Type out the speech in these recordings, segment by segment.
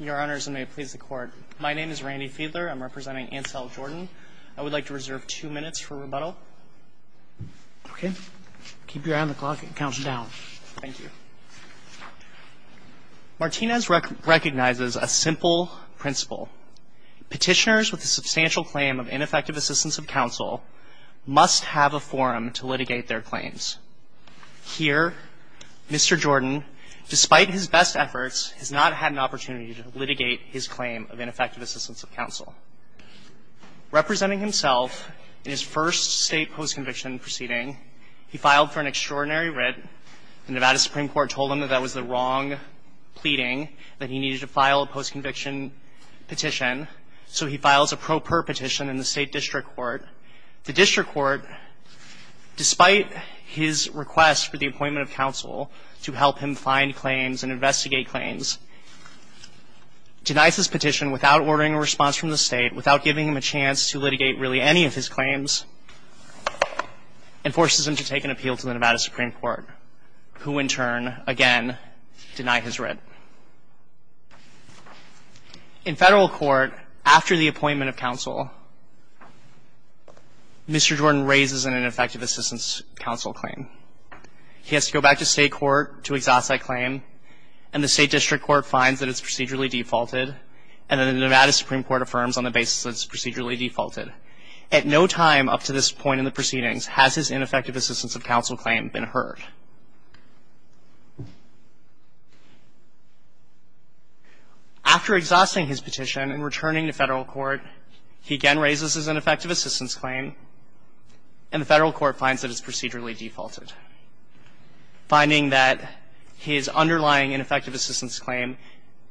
Your Honors, and may it please the Court, my name is Randy Fiedler. I'm representing Ansell Jordan. I would like to reserve two minutes for rebuttal. Okay, keep your eye on the clock and count down. Thank you. Martinez recognizes a simple principle. Petitioners with a substantial claim of ineffective assistance of counsel must have a forum to litigate their claims. Here, Mr. Jordan, despite his best efforts, has not had an opportunity to litigate his claim of ineffective assistance of counsel. Representing himself in his first state post-conviction proceeding, he filed for an extraordinary writ. The Nevada Supreme Court told him that that was the wrong pleading, that he needed to file a post-conviction petition, so he files a petition to the state district court. The district court, despite his request for the appointment of counsel to help him find claims and investigate claims, denies his petition without ordering a response from the state, without giving him a chance to litigate really any of his claims, and forces him to take an appeal to the Nevada Supreme Court, who in turn, again, denied his writ. In federal court, after the appointment of counsel, Mr. Jordan raises an ineffective assistance of counsel claim. He has to go back to state court to exhaust that claim, and the state district court finds that it's procedurally defaulted, and then the Nevada Supreme Court affirms on the basis that it's procedurally defaulted. At no time up to this point in the proceedings has his ineffective assistance of counsel claim been heard. After exhausting his petition and returning to federal court, he again raises his ineffective assistance claim, and the federal court finds that it's procedurally defaulted, finding that his underlying ineffective assistance claim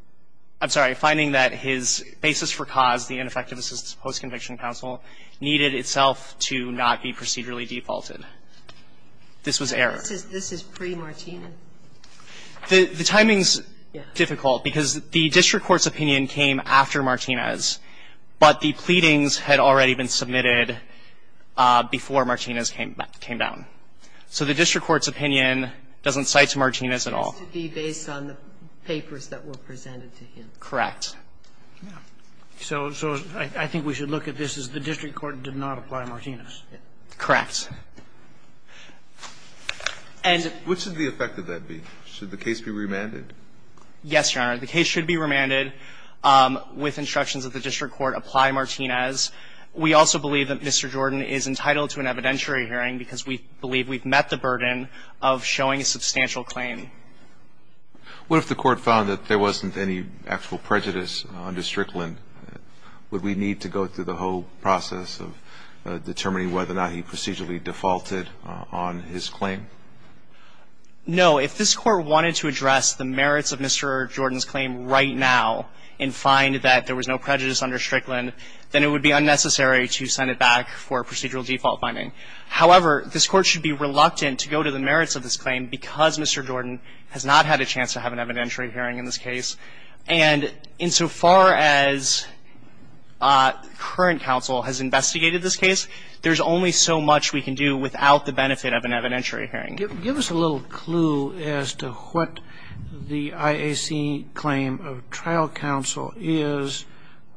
— I'm sorry, finding that his basis for cause, the ineffective assistance post-conviction counsel, needed itself to not be procedurally defaulted. This was error. This is pre-Martinez? The timing's difficult because the district court's opinion came after Martinez, but the pleadings had already been submitted before Martinez came down. So the district court's opinion doesn't cite to Martinez at all. It has to be based on the papers that were presented to him. Correct. So I think we should look at this as the district court did not apply Martinez. Correct. And the case should be remanded? Yes, Your Honor. The case should be remanded with instructions that the district court apply Martinez. We also believe that Mr. Jordan is entitled to an evidentiary hearing because we believe we've met the burden of showing a substantial claim. What if the court found that there wasn't any actual prejudice under Strickland? Would we need to go through the whole process of determining whether or not he procedurally defaulted on his claim? No. If this court wanted to address the merits of Mr. Jordan's claim right now and find that there was no prejudice under Strickland, then it would be unnecessary to send it back for procedural default finding. However, this court should be reluctant to go to the merits of this claim because Mr. Jordan has not had a chance to have an evidentiary hearing in this case. And insofar as current counsel has investigated this case, there's only so much we can do without the benefit of an evidentiary hearing. Give us a little clue as to what the IAC claim of trial counsel is,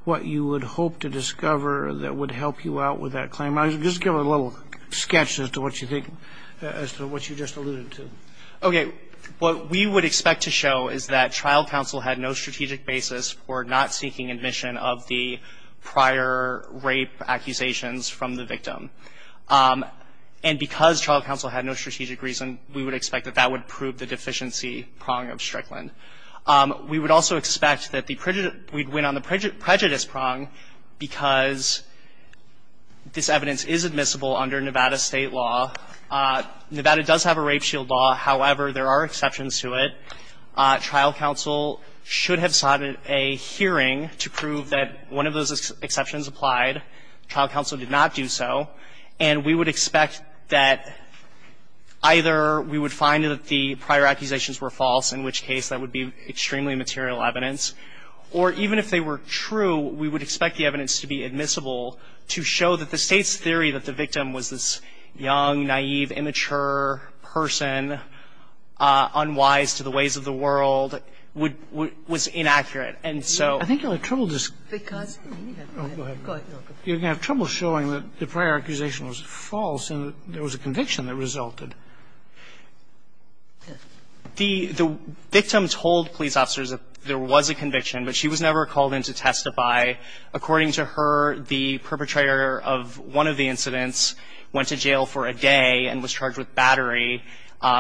what you would hope to discover that would help you out with that claim. Just give a little sketch as to what you think, as to what you just alluded to. Okay. What we would expect to show is that trial counsel had no strategic basis for not seeking admission of the prior rape accusations from the victim. And because trial counsel had no strategic reason, we would expect that that would prove the deficiency prong of Strickland. We would also expect that the prejudice – we'd win on the prejudice prong because this evidence is admissible under Nevada State law. Nevada does have a rape shield law. However, there are exceptions to it. Trial counsel should have sought a hearing to prove that one of those exceptions applied. Trial counsel did not do so. And we would expect that either we would find that the prior accusations were false, in which case that would be extremely material evidence. Or even if they were true, we would expect the evidence to be admissible to show that the State's theory that the victim was this young, naïve, immature person, unwise to the ways of the world, would – was inaccurate. And so – I think you'll have trouble just – Because – Oh, go ahead. Go ahead. You're going to have trouble showing that the prior accusation was false and that there was a conviction that resulted. in to testify. According to her, the perpetrator of one of the incidents went to jail for a day and was charged with battery.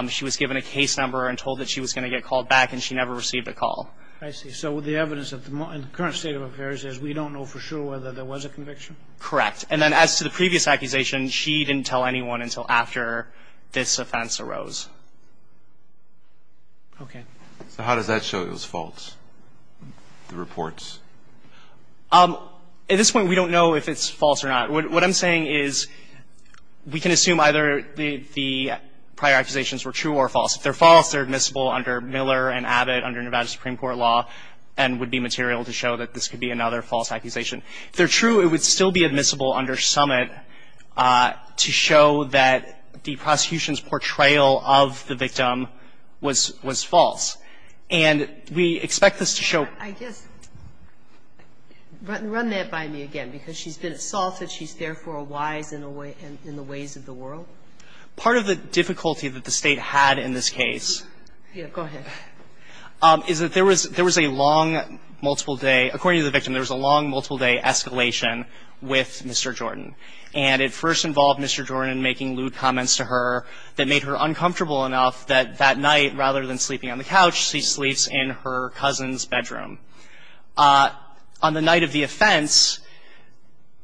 She was given a case number and told that she was going to get called back, and she never received a call. I see. So the evidence at the moment, in the current state of affairs, is we don't know for sure whether there was a conviction? Correct. And then as to the previous accusation, she didn't tell anyone until after this offense arose. Okay. So how does that show it was false, the reports? At this point, we don't know if it's false or not. What I'm saying is we can assume either the prior accusations were true or false. If they're false, they're admissible under Miller and Abbott under Nevada Supreme Court law and would be material to show that this could be another false accusation. If they're true, it would still be admissible under Summit to show that the prosecution's portrayal of the victim was – was false. And we expect this to show – I guess – run that by me again, because she's been assaulted. She's therefore a wise in the ways of the world. Part of the difficulty that the State had in this case is that there was a long multiple-day – according to the victim, there was a long multiple-day escalation with Mr. Jordan. And it first involved Mr. Jordan making lewd comments to her that made her uncomfortable enough that that night, rather than sleeping on the couch, she sleeps in her cousin's bedroom. On the night of the offense,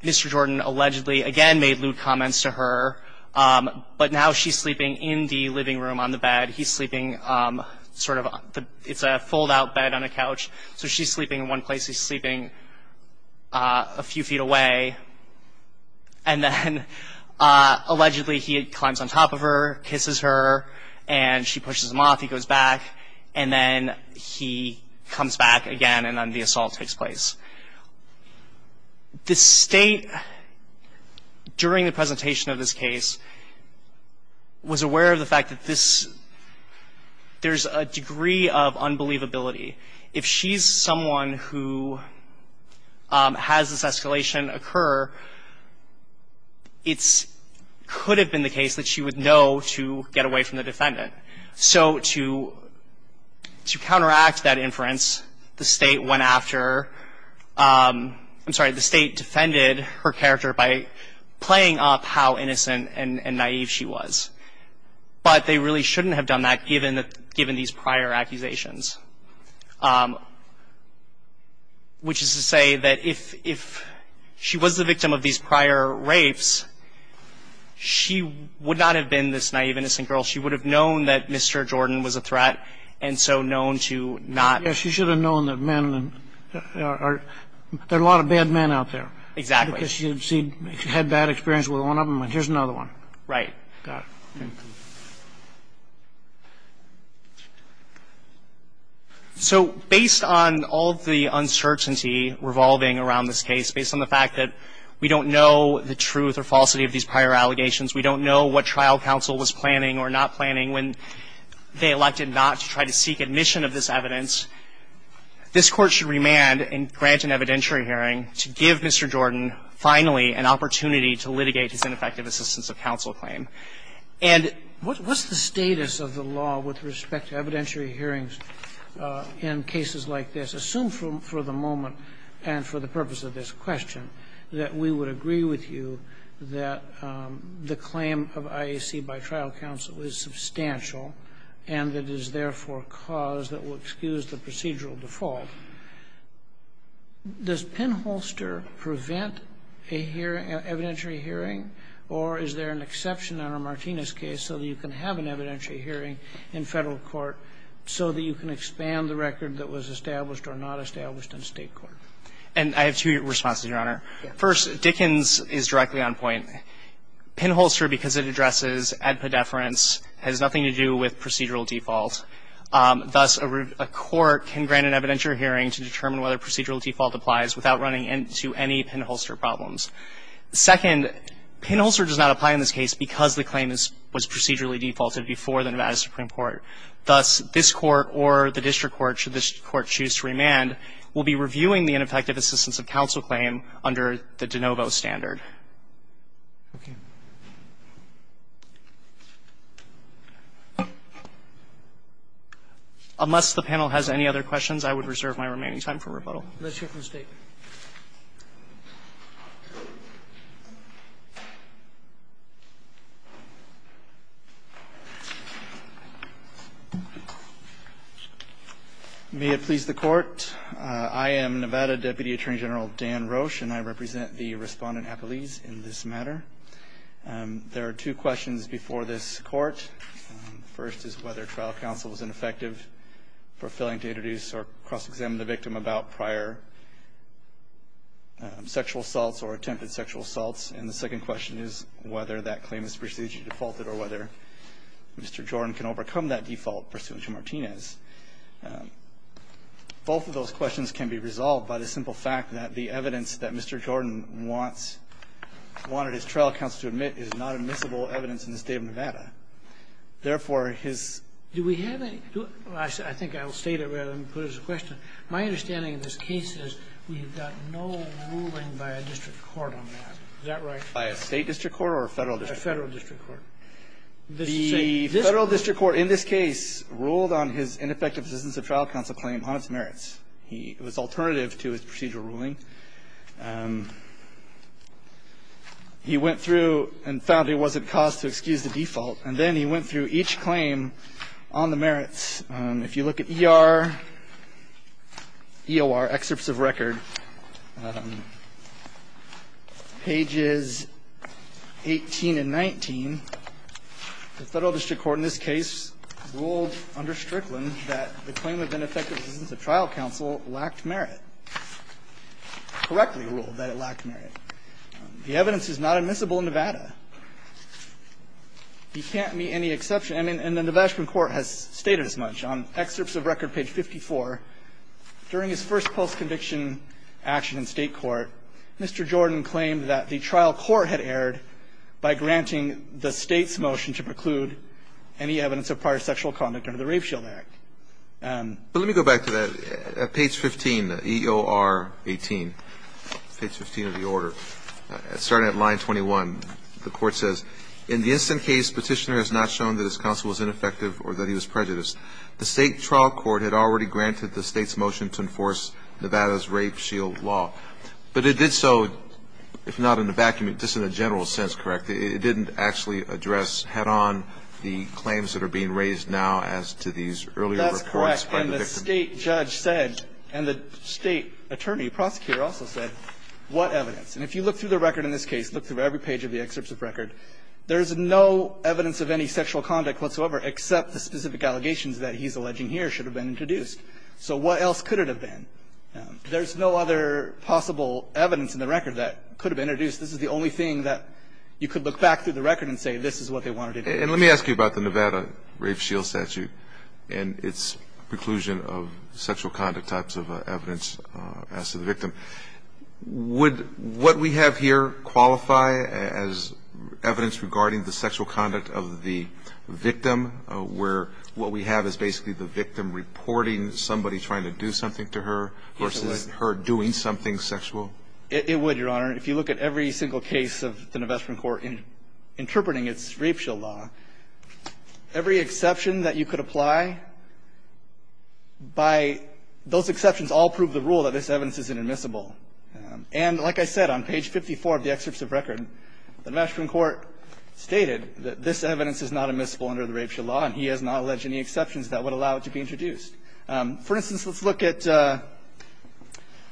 Mr. Jordan allegedly, again, made lewd comments to her, but now she's sleeping in the living room on the bed. He's sleeping sort of – it's a fold-out bed on a couch, so she's sleeping in one place. He's sleeping a few feet away. And then, allegedly, he climbs on top of her, kisses her, and she pushes him off. He goes back, and then he comes back again, and then the assault takes place. The State, during the presentation of this case, was aware of the fact that this – there's a degree of unbelievability. If she's someone who has this escalation occur, it's – could have been the case that she would know to get away from the defendant. So to counteract that inference, the State went after – I'm sorry, the State defended her character by playing up how innocent and naive she was. But they really shouldn't have done that, given these prior accusations, which is to say that if she was the victim of these prior rapes, she would not have been this naive, innocent girl. She would have known that Mr. Jordan was a threat, and so known to not – Yes, she should have known that men are – there are a lot of bad men out there. Exactly. Because she had bad experience with one of them, and here's another one. Right. So based on all of the uncertainty revolving around this case, based on the fact that we don't know the truth or falsity of these prior allegations, we don't know what trial counsel was planning or not planning when they elected not to try to seek admission of this evidence, this Court should remand and grant an evidentiary hearing to give Mr. Jordan finally an opportunity to litigate his ineffective assistance of counsel claim. And what's the status of the law with respect to evidentiary hearings in cases like this, assumed for the moment and for the purpose of this question, that we would agree with you that the claim of IAC by trial counsel is substantial and that it is therefore a cause that will excuse the procedural default? Does Penholster prevent a hearing, an evidentiary hearing, or is there an exception on a Martinez case so that you can have an evidentiary hearing in Federal court so that you can expand the record that was established or not established in State court? And I have two responses, Your Honor. First, Dickens is directly on point. Penholster, because it addresses ad pedeference, has nothing to do with procedural default. Thus, a court can grant an evidentiary hearing to determine whether procedural default applies without running into any Penholster problems. Second, Penholster does not apply in this case because the claim was procedurally defaulted before the Nevada Supreme Court. Thus, this Court or the district court, should this court choose to remand, will be reviewing the ineffective assistance of counsel claim under the de novo standard. Unless the panel has any other questions, I would reserve my remaining time for rebuttal. Roberts, let's hear from the State. May it please the Court. I am Nevada Deputy Attorney General Dan Roche, and I represent the respondent Apeliz in this matter. There are two questions before this Court. First is whether trial counsel is ineffective for failing to introduce or cross-examine the victim about prior sexual assaults or attempted sexual assaults. And the second question is whether that claim is procedurally defaulted or whether Mr. Jordan can overcome that default pursuant to Martinez. Both of those questions can be resolved by the simple fact that the evidence that Mr. Jordan wants or wanted his trial counsel to admit is not admissible evidence in the State of Nevada. Therefore, his ---- Do we have any ---- I think I'll state it rather than put it as a question. My understanding of this case is we've got no ruling by a district court on that. Is that right? By a State district court or a Federal district court? A Federal district court. The Federal district court in this case ruled on his ineffective assistance of trial counsel claim on its merits. He was alternative to his procedural ruling. He went through and found he wasn't caused to excuse the default, and then he went through each claim on the merits. If you look at ER, EOR, excerpts of record, pages 18 and 19, the Federal district court in this case ruled under Strickland that the claim had been effective assistance of trial counsel lacked merit, correctly ruled that it lacked merit. The evidence is not admissible in Nevada. He can't meet any exception. And the Nevada Supreme Court has stated as much on excerpts of record, page 54. During his first post-conviction action in State court, Mr. Jordan claimed that the trial court had erred by granting the State's motion to preclude any evidence of prior sexual conduct under the Rafe Shield Act. But let me go back to that, page 15, EOR 18, page 15 of the order. Starting at line 21, the court says, in the instant case, petitioner has not shown that his counsel was ineffective or that he was prejudiced. The State trial court had already granted the State's motion to enforce Nevada's Rape Shield Law. But it did so, if not in a vacuum, just in a general sense, correct? It didn't actually address head-on the claims that are being raised now as to these earlier reports by the victim. That's correct. And the State judge said, and the State attorney, prosecutor, also said, what evidence? And if you look through the record in this case, look through every page of the excerpts of record, there's no evidence of any sexual conduct whatsoever except the specific allegations that he's alleging here should have been introduced. So what else could it have been? There's no other possible evidence in the record that could have been introduced. This is the only thing that you could look back through the record and say, this is what they wanted to do. And let me ask you about the Nevada Rape Shield Statute and its preclusion of sexual conduct types of evidence as to the victim. Would what we have here qualify as evidence regarding the sexual conduct of the victim, where what we have is basically the victim reporting somebody trying to do something to her versus her doing something sexual? It would, Your Honor. If you look at every single case of the Nevada Supreme Court interpreting its rape shield law, every exception that you could apply, by those exceptions, all prove the rule that this evidence is inadmissible. And like I said, on page 54 of the excerpts of record, the Nevada Supreme Court stated that this evidence is not admissible under the rape shield law, and he has not alleged any exceptions that would allow it to be introduced. For instance, let's look at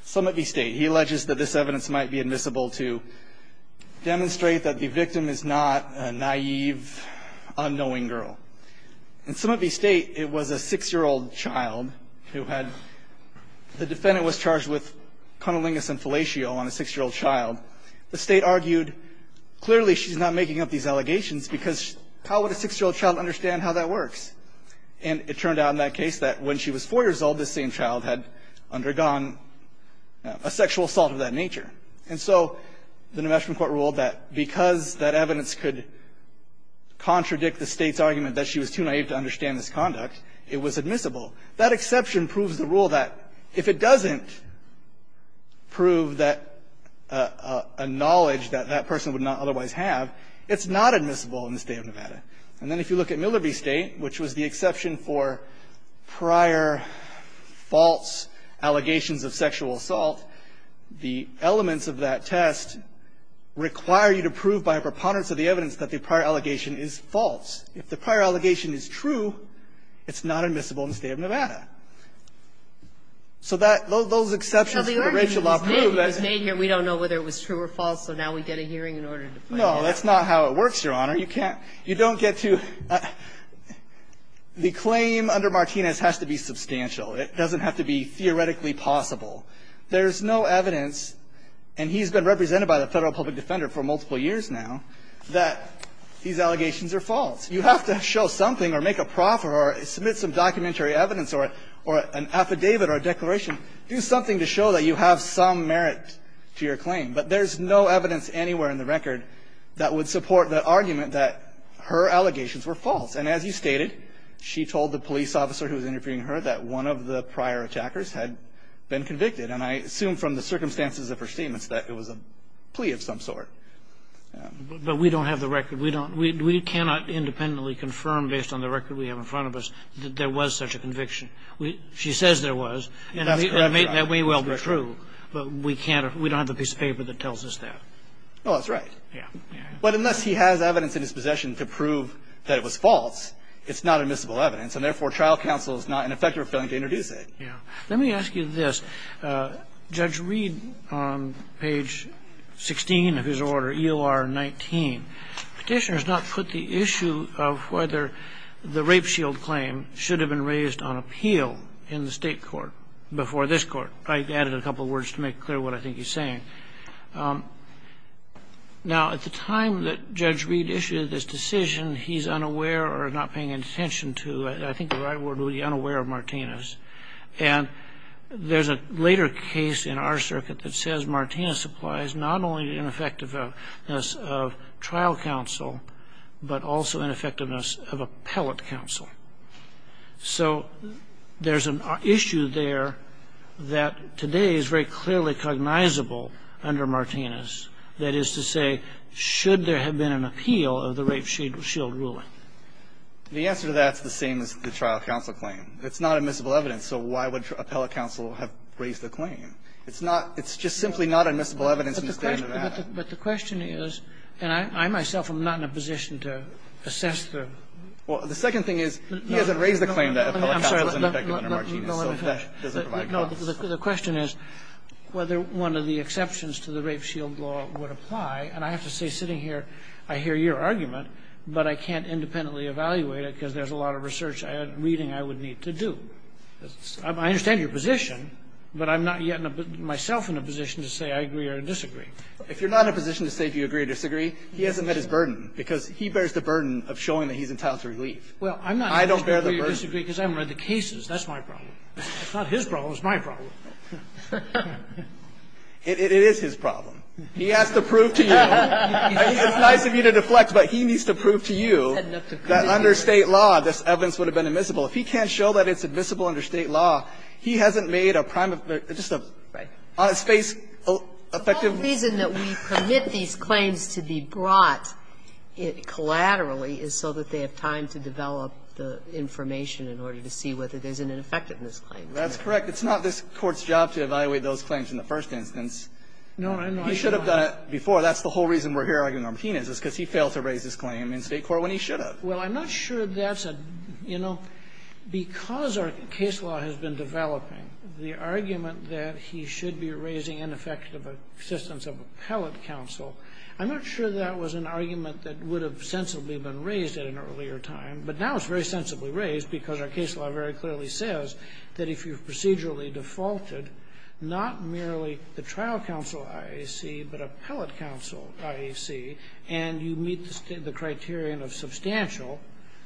Summit v. State. He alleges that this evidence might be admissible to demonstrate that the victim is not a naive, unknowing girl. In Summit v. State, it was a 6-year-old child who had the defendant was charged with cunnilingus and fellatio on a 6-year-old child. The State argued, clearly, she's not making up these allegations because how would a 6-year-old child understand how that works? And it turned out in that case that when she was 4 years old, the same child had undergone a sexual assault of that nature. And so the Nevada Supreme Court ruled that because that evidence could contradict the State's argument that she was too naive to understand this conduct, it was admissible. And if you look at Miller v. State, which was the exception for prior false allegations of sexual assault, the elements of that test require you to prove by a preponderance of the evidence that the prior allegation is false. If the prior allegation is true, it's not admissible in the State of Nevada. So that those exceptions that the rape shield law proved that it's true, it's not admissible in the State of Nevada. And so the State has to prove that the allegations are true or false so now we get a hearing in order to find out. No, that's not how it works, Your Honor. You can't you don't get to the claim under Martinez has to be substantial. It doesn't have to be theoretically possible. There's no evidence, and he's been represented by the Federal Public Defender for multiple years now, that these allegations are false. You have to show something or make a proffer or submit some documentary evidence or an affidavit or a declaration, do something to show that you have some merit to your claim. But there's no evidence anywhere in the record that would support the argument that her allegations were false. And as you stated, she told the police officer who was interviewing her that one of the prior attackers had been convicted, and I assume from the circumstances of her statements that it was a plea of some sort. But we don't have the record. We don't. We cannot independently confirm based on the record we have in front of us that there was such a conviction. She says there was, and that may well be true, but we can't or we don't have the piece of paper that tells us that. Oh, that's right. Yeah. Yeah. But unless he has evidence in his possession to prove that it was false, it's not admissible evidence, and therefore, trial counsel is not an effective filing to introduce it. Yeah. Let me ask you this. Judge Reed, on page 16 of his order, EOR 19, Petitioner has not put the issue of whether the rape shield claim should have been raised on appeal in the state court before this court. I added a couple of words to make clear what I think he's saying. Now, at the time that Judge Reed issued this decision, he's unaware or not paying attention to, I think the right word would be unaware of Martinez. And there's a later case in our circuit that says Martinez supplies not only the ineffectiveness of trial counsel, but also ineffectiveness of appellate counsel. So there's an issue there that today is very clearly cognizable under Martinez, that is to say, should there have been an appeal of the rape shield ruling? The answer to that is the same as the trial counsel claim. It's not admissible evidence, so why would appellate counsel have raised the claim? It's not – it's just simply not admissible evidence in the state of Nevada. But the question is, and I myself am not in a position to assess the – Well, the second thing is, he hasn't raised the claim that appellate counsel is ineffective under Martinez. I'm sorry. No, no, no. The question is whether one of the exceptions to the rape shield law would apply. And I have to say, sitting here, I hear your argument, but I can't independently evaluate it because there's a lot of research and reading I would need to do. I understand your position, but I'm not yet myself in a position to say I agree or disagree. If you're not in a position to say if you agree or disagree, he hasn't met his burden because he bears the burden of showing that he's entitled to relief. I don't bear the burden. Well, I'm not in a position to agree or disagree because I haven't read the cases. That's my problem. If it's not his problem, it's my problem. It is his problem. He has to prove to you – It's nice of you to deflect, but he needs to prove to you that under State law, this evidence would have been admissible. If he can't show that it's admissible under State law, he hasn't made a prime of – just a – Right. On its face, effective – The reason that we permit these claims to be brought collaterally is so that they have time to develop the information in order to see whether there's an ineffectiveness claim. That's correct. It's not this Court's job to evaluate those claims in the first instance. No, I know. He should have done it before. That's the whole reason we're here arguing on Martinez, is because he failed to raise this claim in State court when he should have. Well, I'm not sure that's a – you know, because our case law has been developing, the argument that he should be raising ineffective assistance of appellate counsel, I'm not sure that was an argument that would have sensibly been raised at an earlier time, but now it's very sensibly raised because our case law very clearly says that if you've procedurally defaulted not merely the trial counsel, IAC, but appellate counsel, IAC, and you meet the criterion of substantial,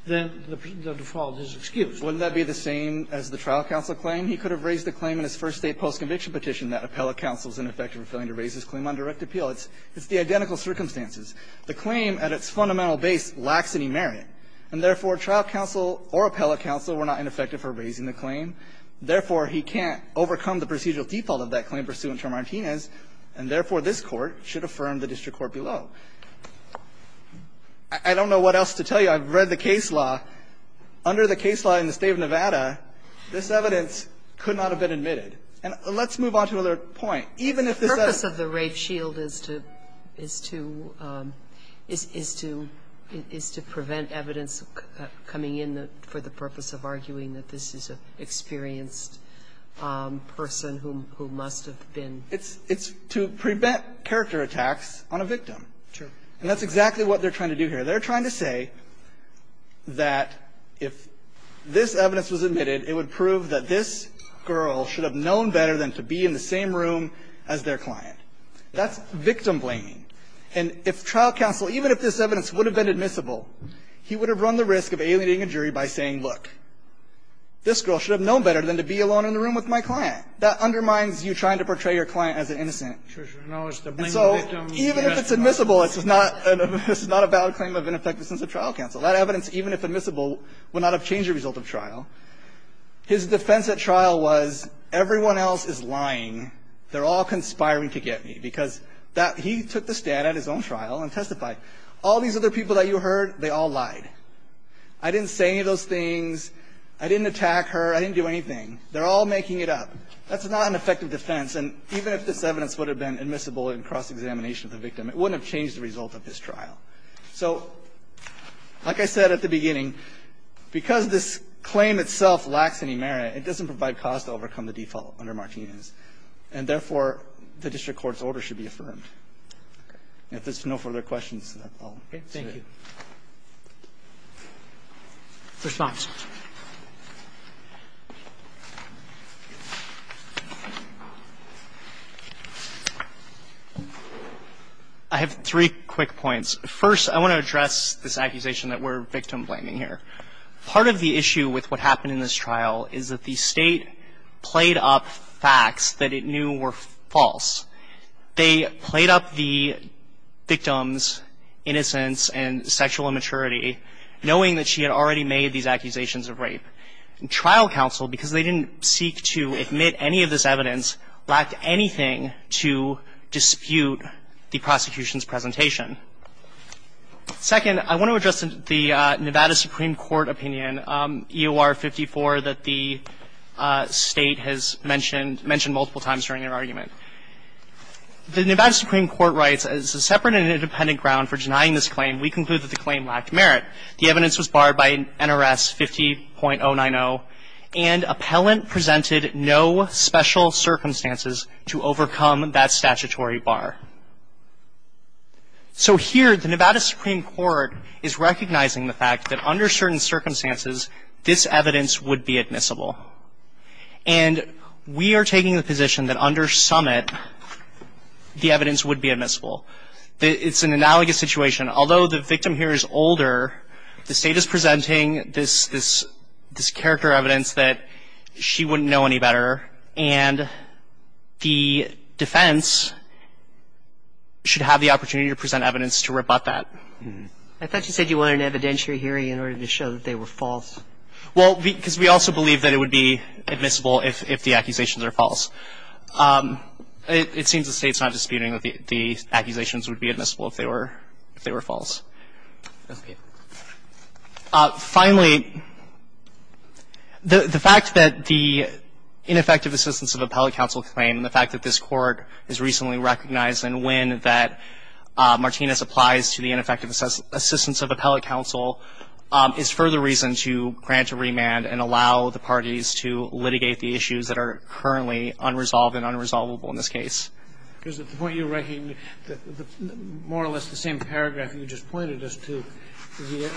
then the default is excused. Wouldn't that be the same as the trial counsel claim? He could have raised the claim in his first State post-conviction petition that appellate counsel is ineffective for failing to raise his claim on direct appeal. It's the identical circumstances. The claim at its fundamental base lacks any merit, and therefore, trial counsel or appellate counsel were not ineffective for raising the claim. Therefore, he can't overcome the procedural default of that claim pursuant to Martinez, and therefore, this Court should affirm the district court below. I don't know what else to tell you. I've read the case law. Under the case law in the State of Nevada, this evidence could not have been admitted. And let's move on to another point. Even if this says the rape shield is to prevent evidence coming in for the purpose of arguing that this is an experienced person who must have been. It's to prevent character attacks on a victim. And that's exactly what they're trying to do here. They're trying to say that if this evidence was admitted, it would prove that this girl should have known better than to be in the same room as their client. That's victim-blaming. And if trial counsel, even if this evidence would have been admissible, he would have run the risk of alienating a jury by saying, look, this girl should have known better than to be alone in the room with my client. That undermines you trying to portray your client as an innocent. And so even if it's admissible, it's not a valid claim of innocence. And that's exactly what they're trying to do here. And that's exactly what they're trying to do here. And so even if this evidence would have been admissible, it would not have changed the result of trial. His defense at trial was, everyone else is lying. They're all conspiring to get me. Because that he took the stand at his own trial and testified. All these other people that you heard, they all lied. I didn't say any of those things. I didn't attack her. I didn't do anything. They're all making it up. That's not an effective defense. And even if this evidence would have been admissible in cross-examination of the victim, it wouldn't have changed the result of his trial. So like I said at the beginning, because this claim itself lacks any merit, it doesn't provide cause to overcome the default under Martinez. And therefore, the district court's order should be affirmed. If there's no further questions, I'll say it. Roberts. Response. I have three quick points. First, I want to address this accusation that we're victim-blaming here. Part of the issue with what happened in this trial is that the state played up facts that it knew were false. They played up the victim's innocence and sexual immaturity, knowing that she had already made these accusations of rape. Trial counsel, because they didn't seek to admit any of this evidence, lacked anything to dispute the prosecution's presentation. Second, I want to address the Nevada Supreme Court opinion, EOR 54, that the state has mentioned multiple times during their argument. The Nevada Supreme Court writes, as a separate and independent ground for denying this claim, we conclude that the claim lacked merit. The evidence was barred by NRS 50.090, and appellant presented no special circumstances to overcome that statutory bar. So here, the Nevada Supreme Court is recognizing the fact that under certain circumstances, this evidence would be admissible. And we are taking the position that under summit, the evidence would be admissible. It's an analogous situation. Although the victim here is older, the state is presenting this character evidence that she wouldn't know any better, and the defense should have the opportunity to present evidence to rebut that. I thought you said you wanted an evidentiary hearing in order to show that they were false. Well, because we also believe that it would be admissible if the accusations are false. It seems the state's not disputing that the accusations would be admissible if they were false. Finally, the fact that the ineffective assistance of appellate counsel claim, and the fact that this Court has recently recognized and when that Martinez applies to the ineffective assistance of appellate counsel, is further reason to grant a remand and allow the parties to litigate the issues that are currently unresolved and unresolvable in this case. Because at the point you're making, more or less the same paragraph you just pointed us to,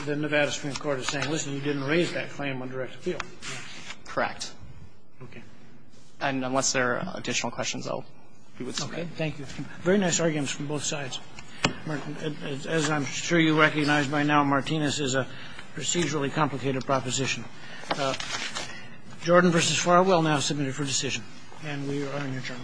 the Nevada Supreme Court is saying, listen, you didn't raise that claim on direct appeal. Correct. And unless there are additional questions, I'll be with you. Okay. Thank you. Very nice arguments from both sides. As I'm sure you recognize by now, Martinez is a procedurally complicated proposition. Jordan v. Farwell now submitted for decision. And we are adjourned. Thank you.